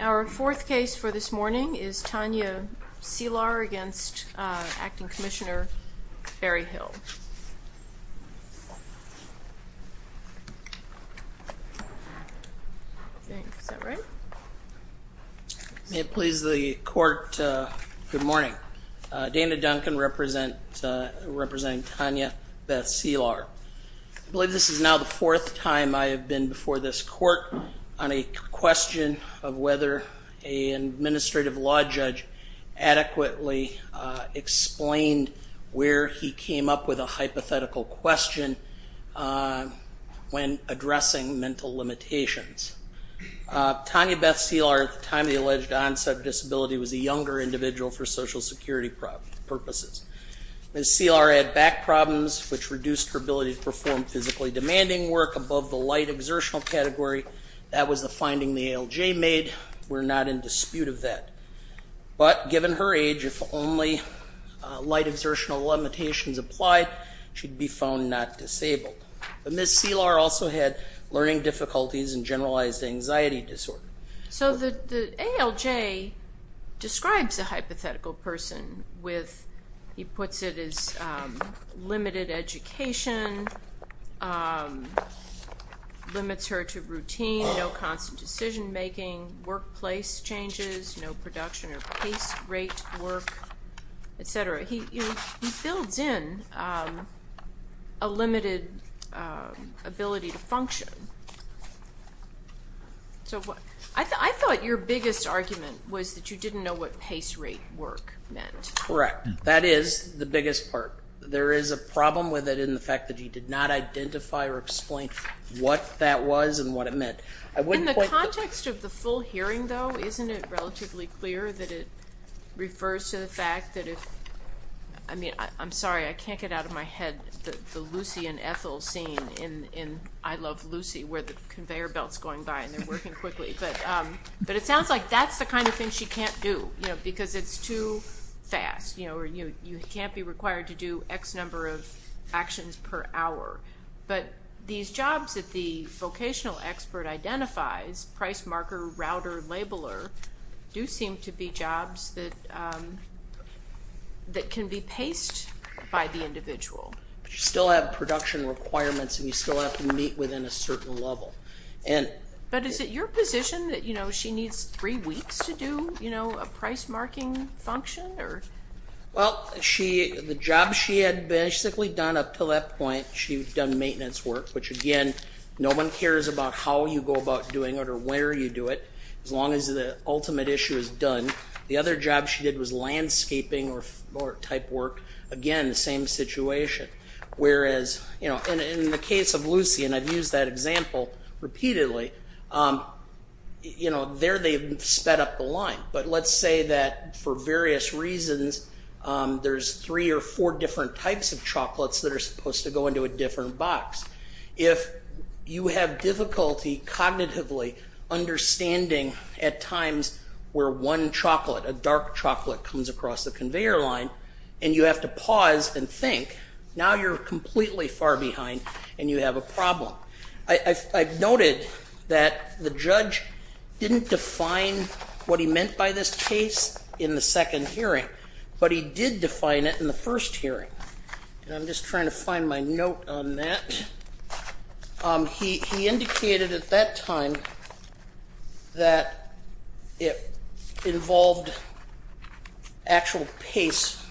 Our fourth case for this morning is Tanya Cihlar v. Acting Commissioner Berryhill. I believe this is now the fourth time I have been before this court on a question of whether an administrative law judge adequately explained where he came up with a hypothetical question when addressing mental limitations. Tanya Beth Cihlar, at the time of the alleged onset of disability, was a younger individual for Social Security purposes. Ms. Cihlar had back problems which reduced her ability to perform physically demanding work above the light exertional category. That was the finding the ALJ made, we are not in dispute of that. But given her age, if only light exertional limitations applied, she would be found not disabled. Ms. Cihlar also had learning difficulties and generalized anxiety disorder. So the ALJ describes a hypothetical person with, he puts it as limited education, limits her to routine, no constant decision making, workplace changes, no production or pace rate work, etc. He builds in a limited ability to function. I thought your biggest argument was that you didn't know what pace rate work meant. Mr. Berryhill Correct. That is the biggest part. There is a problem with it in the fact that you did not identify or explain what that was and what it meant. Ms. Cihlar In the context of the full hearing, though, isn't it relatively clear that it refers to the fact that if, I mean, I'm sorry, I can't get out of my head the Lucy and Ethel scene in I Love Lucy, where the conveyor belt's going by and they're working quickly. But it sounds like that's the kind of thing she can't do, because it's too fast. You can't be required to do X number of actions per hour. But these jobs that the vocational expert identifies, price marker, router, labeler, do seem to be jobs that can be paced by the individual. Mr. Berryhill You still have production requirements and you still have to meet within a certain level. Ms. Cihlar But is it your position that she needs three Ms. Cihlar Well, the job she had basically done up to that point, she had done maintenance work, which again, no one cares about how you go about doing it or where you do it, as long as the ultimate issue is done. The other job she did was landscaping type work. Again, the same situation. Whereas in the case of Lucy, and I've used that example repeatedly, there they've sped up the line. But let's say that for various reasons, there's three or four different types of chocolates that are supposed to go into a different box. If you have difficulty cognitively understanding at times where one chocolate, a dark chocolate comes across the conveyor line, and you have to pause and think, now you're completely far behind and you have a problem. I've noted that the judge didn't define what he meant by this case in the second hearing, but he did define it in the first hearing. And I'm just trying to find my note on that. He indicated at that time that it involved actual pace.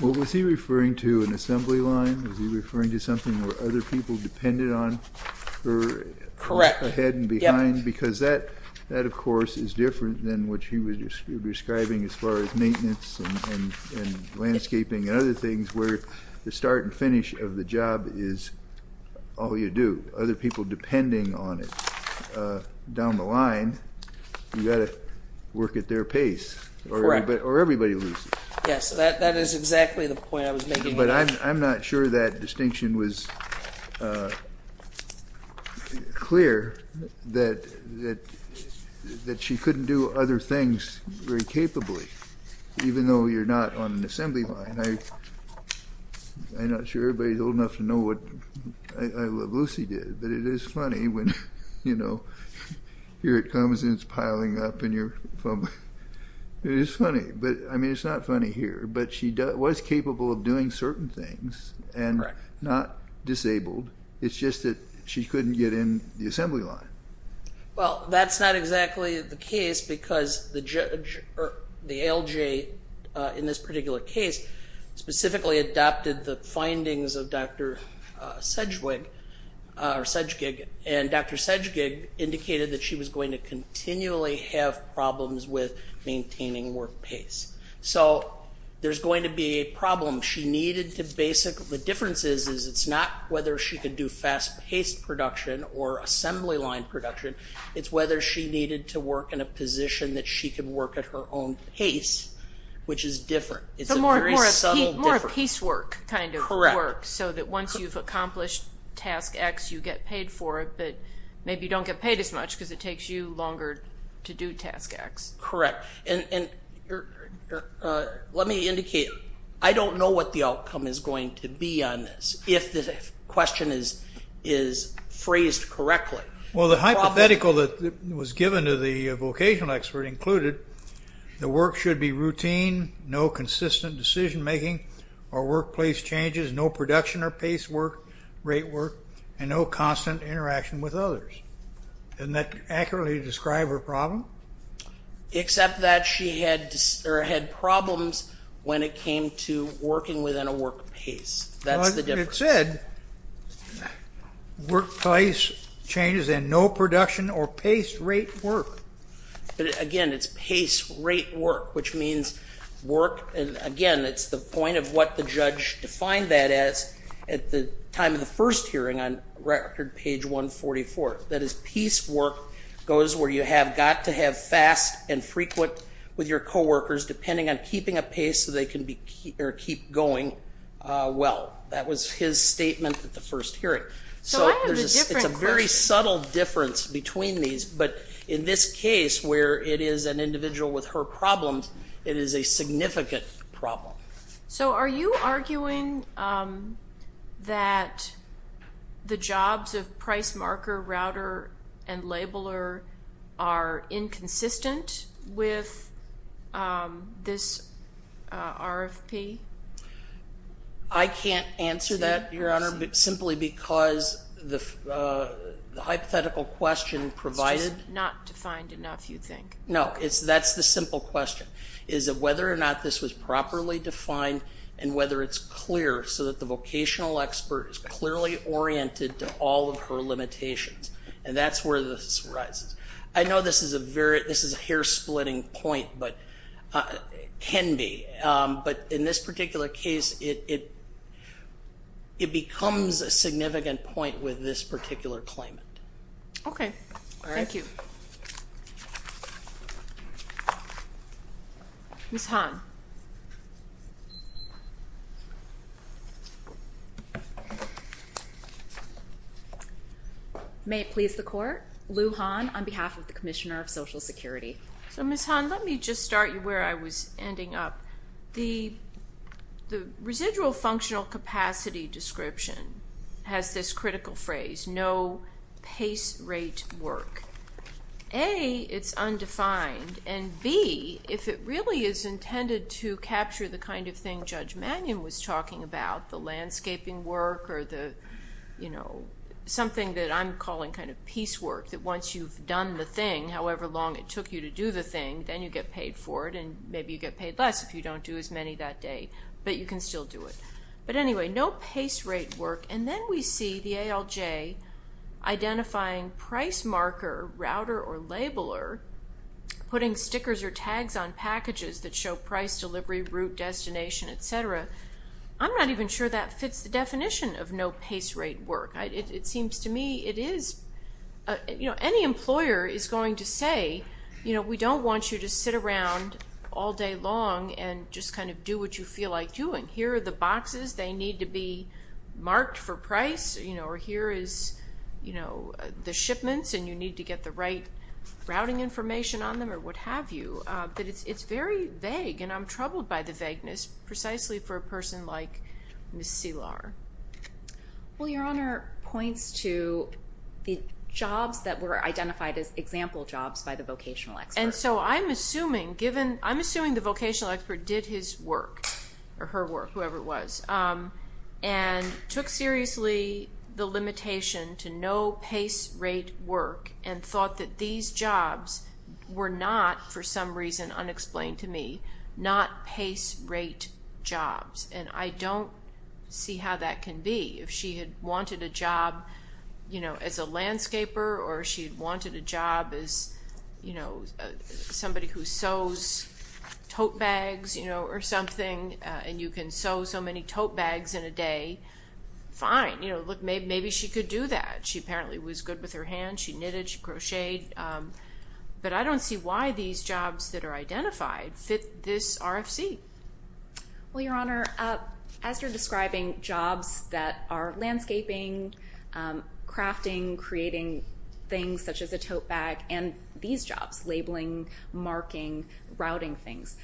Well, was he referring to an assembly line? Was he referring to something where other people depended on her? Correct. Head and behind? Because that, of course, is different than what he was describing as far as maintenance and landscaping and other things, where the start and finish of the job is all you do. Other people depending on it down the line, you've got to work at their pace or everybody loses. Yes, that is exactly the point I was making. But I'm not sure that distinction was clear, that she couldn't do other things very capably. Even though you're not on an assembly line, I'm not sure everybody's old enough to know what Lucy did, but it is funny when, you know, here it comes and it's piling up and you're fumbling. It is funny, but I mean, it's not funny here. But she was capable of doing certain things and not disabled. It's just that she couldn't get in the assembly line. Well, that's not exactly the case because the judge, or the LJ in this particular case specifically adopted the findings of Dr. Sedgwick, or Sedgig, and Dr. Sedgig indicated that she was going to continually have problems with maintaining work pace. So there's going to be a problem. She needed to basically, the difference is, is it's not whether she could do fast paced production or assembly line production. It's whether she needed to work in a position that she could work at her own pace, which is different. It's a very subtle difference. So more of piecework kind of work, so that once you've accomplished task X, you get paid for it, but maybe you don't get paid as much because it takes you longer to do task X. Correct. And let me indicate, I don't know what the outcome is going to be on this, if the question is phrased correctly. Well, the hypothetical that was given to the vocational expert included, the work should be routine, no consistent decision making, or workplace changes, no production or pace work, rate work, and no constant interaction with others. Doesn't that accurately describe her problem? Except that she had problems when it came to working within a work pace. That's the difference. It said, workplace changes and no production or pace rate work. Again, it's pace rate work, which means work, and again, it's the point of what the judge defined that as at the time of the first hearing on record page 144. That is, piecework goes where you have got to have fast and frequent with your coworkers depending on keeping a pace so they can keep going well. That was his statement at the first hearing. So it's a very subtle difference between these. But in this case, where it is an individual with her problems, it is a significant problem. So are you arguing that the jobs of price marker, router, and labeler are inconsistent with this RFP? I can't answer that, Your Honor, simply because the hypothetical question provided- It's just not defined enough, you think? No, that's the simple question, is that whether or not this was properly defined and whether it's clear so that the vocational expert is clearly oriented to all of her limitations. And that's where this arises. I know this is a hair splitting point, but it can be. But in this particular case, it becomes a significant point with this particular claimant. Okay. All right. Thank you. Ms. Hahn. May it please the Court. Lou Hahn on behalf of the Commissioner of Social Security. So, Ms. Hahn, let me just start you where I was ending up. The residual functional capacity description has this critical phrase, no pace rate work. A, it's undefined, and B, if it really is intended to capture the kind of thing Judge Mannion was talking about, the landscaping work or the, you know, something that I'm sure took you to do the thing, then you get paid for it, and maybe you get paid less if you don't do as many that day, but you can still do it. But anyway, no pace rate work. And then we see the ALJ identifying price marker, router, or labeler, putting stickers or tags on packages that show price delivery, route, destination, et cetera. I'm not even sure that fits the definition of no pace rate work. It seems to me it is, you know, any employer is going to say, you know, we don't want you to sit around all day long and just kind of do what you feel like doing. Here are the boxes. They need to be marked for price, you know, or here is, you know, the shipments, and you need to get the right routing information on them or what have you. But it's very vague, and I'm troubled by the vagueness precisely for a person like Ms. Szilard. Well, Your Honor, points to the jobs that were identified as example jobs by the vocational expert. And so I'm assuming given, I'm assuming the vocational expert did his work, or her work, whoever it was, and took seriously the limitation to no pace rate work and thought that these jobs were not, for some reason unexplained to me, not pace rate jobs. And I don't see how that can be. If she had wanted a job, you know, as a landscaper, or she had wanted a job as, you know, somebody who sews tote bags, you know, or something, and you can sew so many tote bags in a day, fine. You know, look, maybe she could do that. She apparently was good with her hands. She knitted. She crocheted. But I don't see why these jobs that are identified fit this RFC. Well, Your Honor, as you're describing jobs that are landscaping, crafting, creating things such as a tote bag, and these jobs, labeling, marking, routing things,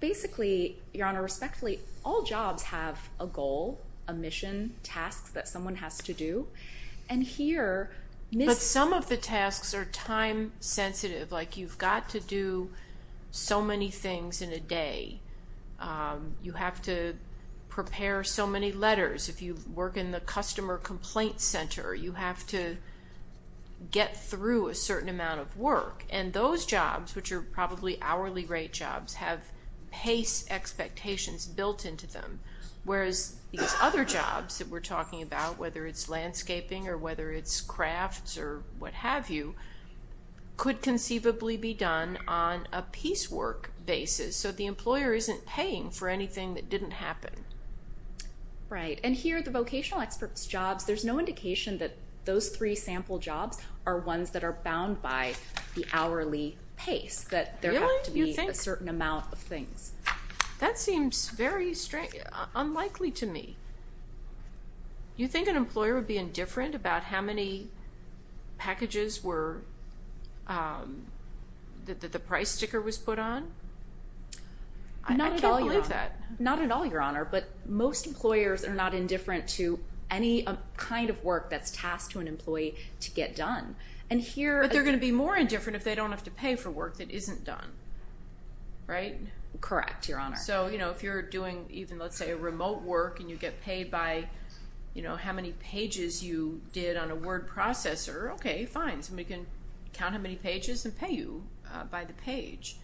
basically, Your Honor, respectfully, all jobs have a goal, a mission, tasks that someone has to do. And here, Ms. time-sensitive, like you've got to do so many things in a day. You have to prepare so many letters. If you work in the customer complaint center, you have to get through a certain amount of work. And those jobs, which are probably hourly rate jobs, have pace expectations built into them, whereas these other jobs that we're talking about, whether it's landscaping or whether it's could conceivably be done on a piecework basis. So the employer isn't paying for anything that didn't happen. Right. And here, the vocational experts' jobs, there's no indication that those three sample jobs are ones that are bound by the hourly pace, that there have to be a certain amount of things. That seems very unlikely to me. You think an employer would be indifferent about how many packages were that the price sticker was put on? Not at all, Your Honor. I can't believe that. Not at all, Your Honor. But most employers are not indifferent to any kind of work that's tasked to an employee to get done. But they're going to be more indifferent if they don't have to pay for work that isn't done. Right? Correct, Your Honor. So, you know, if you're doing even, let's say, a remote work and you get paid by, you know, how many pages you did on a word processor, okay, fine. Somebody can count how many pages and pay you by the page.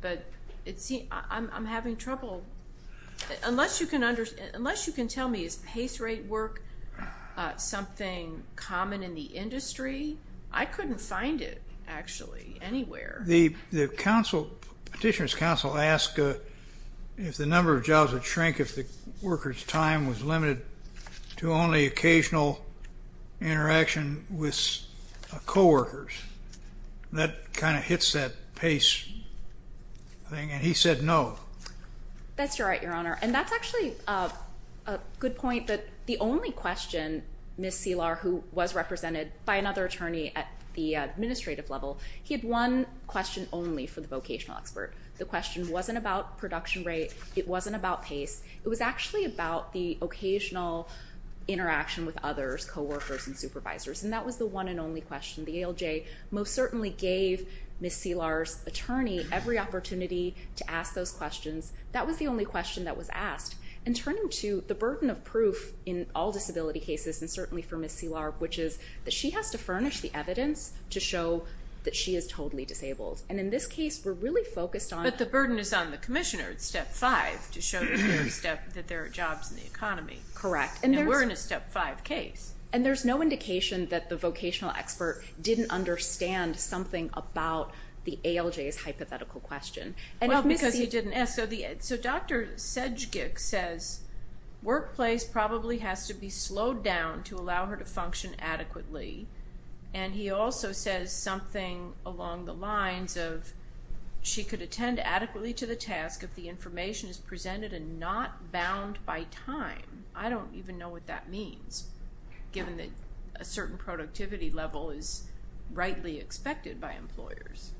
But I'm having trouble. Unless you can tell me, is pace rate work something common in the industry? I couldn't find it, actually, anywhere. The petitioner's counsel asked if the number of jobs would shrink if the worker's time was limited to only occasional interaction with coworkers. That kind of hits that pace thing, and he said no. That's right, Your Honor. And that's actually a good point that the only question Ms. Selar, who was represented by another attorney at the administrative level, he had one question only for the vocational expert. The question wasn't about production rate. It wasn't about pace. It was actually about the occasional interaction with others, coworkers and supervisors, and that was the one and only question. The ALJ most certainly gave Ms. Selar's attorney every opportunity to ask those questions. That was the only question that was asked. And turning to the burden of proof in all disability cases, and certainly for Ms. Selar, which is that she has to furnish the evidence to show that she is totally disabled. And in this case, we're really focused on the burden. But the burden is on the commissioner at Step 5 to show that there are jobs in the economy. Correct. And we're in a Step 5 case. And there's no indication that the vocational expert didn't understand something about the ALJ's hypothetical question. Well, because he didn't ask. So Dr. Sedgick says workplace probably has to be slowed down to allow her to function adequately. And he also says something along the lines of she could attend adequately to the task if the information is presented and not bound by time. I don't even know what that means, given that a certain productivity level is rightly expected by employers.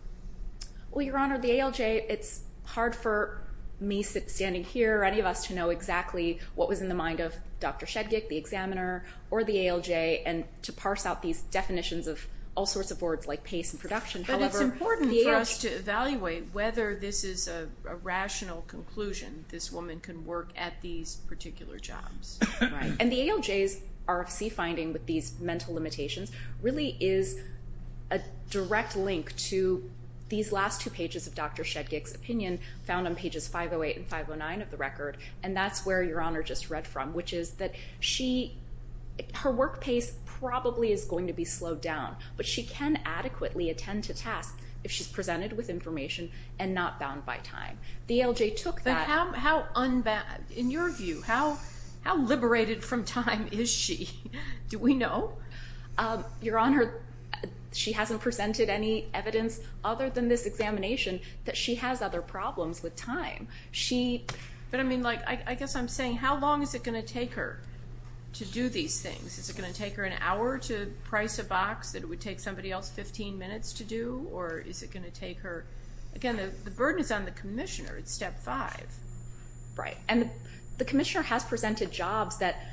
Well, Your Honor, the ALJ, it's hard for me standing here, or any of us, to know exactly what was in the mind of Dr. Sedgick, the examiner, or the ALJ, and to parse out these definitions of all sorts of words like pace and production. But it's important for us to evaluate whether this is a rational conclusion, this woman can work at these particular jobs. Right. And the ALJ's RFC finding with these mental limitations really is a direct link to these last two pages of Dr. Sedgick's opinion, found on pages 508 and 509 of the record. And that's where Your Honor just read from, which is that her work pace probably is going to be slowed down, but she can adequately attend to tasks if she's presented with information and not bound by time. The ALJ took that. In your view, how liberated from time is she? Do we know? Your Honor, she hasn't presented any evidence other than this examination that she has other problems with time. But I mean, I guess I'm saying, how long is it going to take her to do these things? Is it going to take her an hour to price a box that it would take somebody else 15 minutes to do? Or is it going to take her? Again, the burden is on the commissioner. It's step five. Right. And the commissioner has presented jobs that,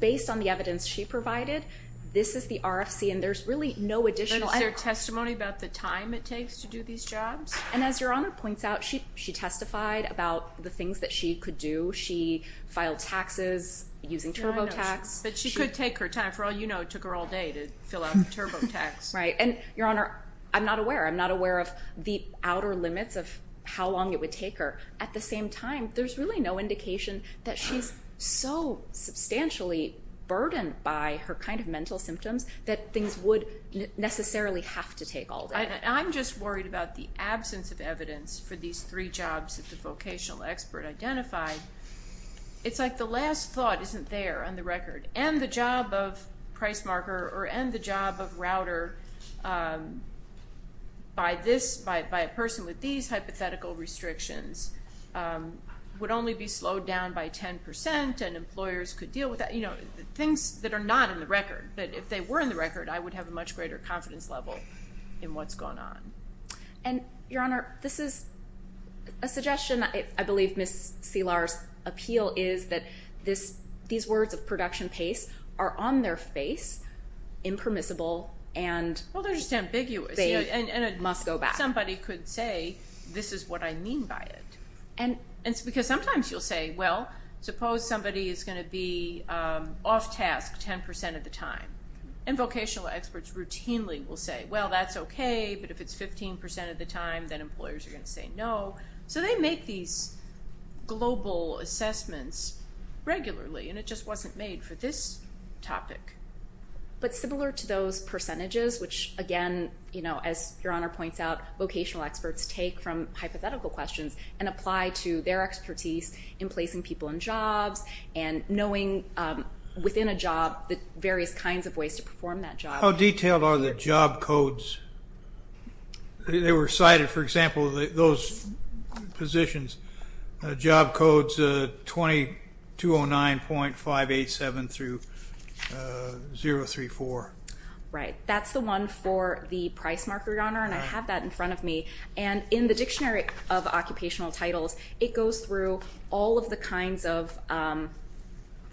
based on the evidence she provided, this is the RFC, and there's really no additional evidence. Is there testimony about the time it takes to do these jobs? And as Your Honor points out, she testified about the things that she could do. She filed taxes using TurboTax. But she could take her time. For all you know, it took her all day to fill out the TurboTax. Right. And, Your Honor, I'm not aware. I'm not aware of the outer limits of how long it would take her. At the same time, there's really no indication that she's so substantially burdened by her kind of mental symptoms that things would necessarily have to take all day. I'm just worried about the absence of evidence for these three jobs that the vocational expert identified. It's like the last thought isn't there on the record. And the job of price marker or end the job of router by this, by a person with these hypothetical restrictions, would only be slowed down by 10% and employers could deal with that. You know, things that are not in the record. But if they were in the record, I would have a much greater confidence level in what's going on. And, Your Honor, this is a suggestion. I believe Ms. Selar's appeal is that these words of production pace are on their face, impermissible, and they must go back. Well, they're just ambiguous. And somebody could say, this is what I mean by it. And it's because sometimes you'll say, well, suppose somebody is going to be off task 10% of the time. And vocational experts routinely will say, well, that's okay. But if it's 15% of the time, then employers are going to say no. So they make these global assessments regularly, and it just wasn't made for this topic. But similar to those percentages, which, again, as Your Honor points out, vocational experts take from hypothetical questions and apply to their expertise in placing people in jobs and knowing within a job the various kinds of ways to perform that job. How detailed are the job codes? They were cited, for example, those positions, job codes 2209.587 through 034. Right. That's the one for the price marker, Your Honor, and I have that in front of me. And in the Dictionary of Occupational Titles, it goes through all of the kinds of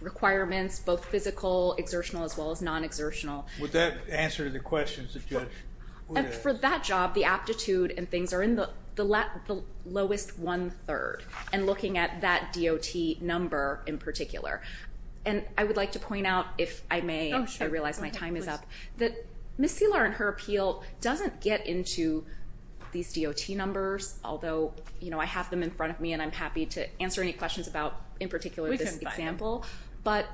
requirements, both physical, exertional, as well as non-exertional. Would that answer the question? For that job, the aptitude and things are in the lowest one-third and looking at that DOT number in particular. And I would like to point out, if I may, I realize my time is up, that Ms. Selar and her appeal doesn't get into these DOT numbers, although I have them in front of me, and I'm happy to answer any questions about, in particular, this example. But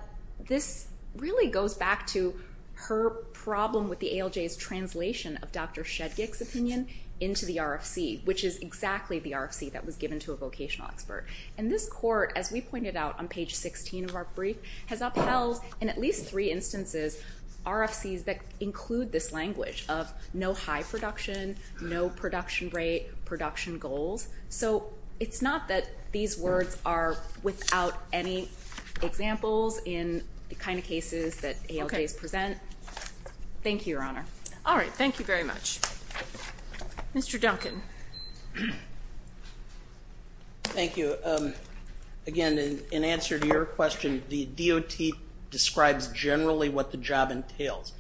this really goes back to her problem with the ALJ's translation of Dr. Shedgick's opinion into the RFC, which is exactly the RFC that was given to a vocational expert. And this court, as we pointed out on page 16 of our brief, has upheld, in at least three instances, RFCs that include this language of no high production, no production rate, production goals. So it's not that these words are without any examples in the kind of cases that ALJs present. Thank you, Your Honor. All right. Thank you very much. Mr. Duncan. Thank you. Again, in answer to your question, the DOT describes generally what the job entails.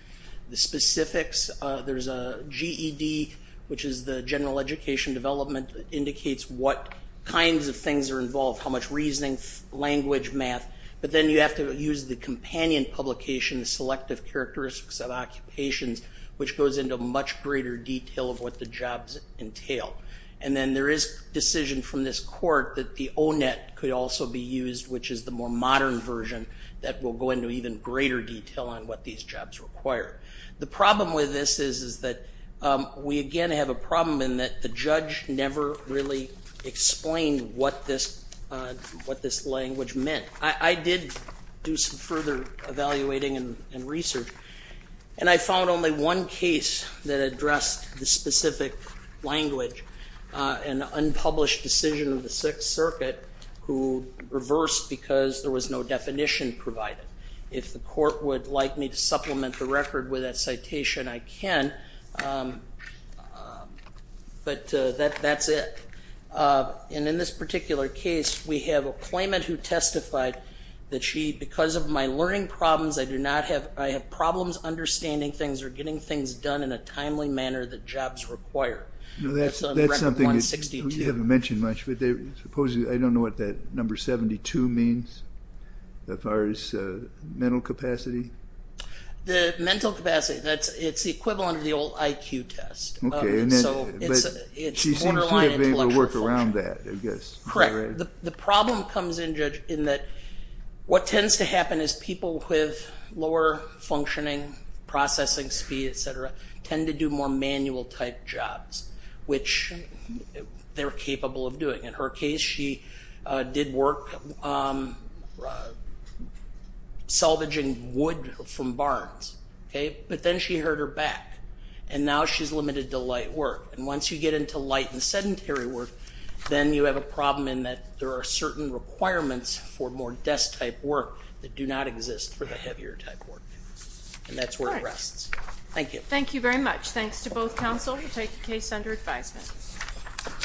The specifics, there's a GED, which is the General Education Development, indicates what kinds of things are involved, how much reasoning, language, math. But then you have to use the companion publication, the Selective Characteristics of Occupations, which goes into much greater detail of what the jobs entail. And then there is decision from this court that the ONET could also be used, which is the more modern version, that will go into even greater detail on what these jobs require. The problem with this is that we, again, have a problem in that the judge never really explained what this language meant. I did do some further evaluating and research, and I found only one case that addressed the specific language, an unpublished decision of the Sixth Circuit, who reversed because there was no definition provided. If the court would like me to supplement the record with that citation, I can, but that's it. And in this particular case, we have a claimant who testified that she, because of my learning problems, I have problems understanding things or getting things done in a timely manner that jobs require. That's on Record 162. You haven't mentioned much, but supposedly, I don't know what that number 72 means as far as mental capacity. The mental capacity, it's the equivalent of the old IQ test. Okay, but she seems to be able to work around that, I guess. Correct. The problem comes in, Judge, in that what tends to happen is people with lower functioning, processing speed, et cetera, tend to do more manual-type jobs, which they're capable of doing. In her case, she did work salvaging wood from barns, okay? But then she hurt her back, and now she's limited to light work. And once you get into light and sedentary work, then you have a problem in that there are certain requirements for more desk-type work that do not exist for the heavier-type work. And that's where it rests. Thank you. Thank you very much. Thanks to both counsel who take the case under advisement.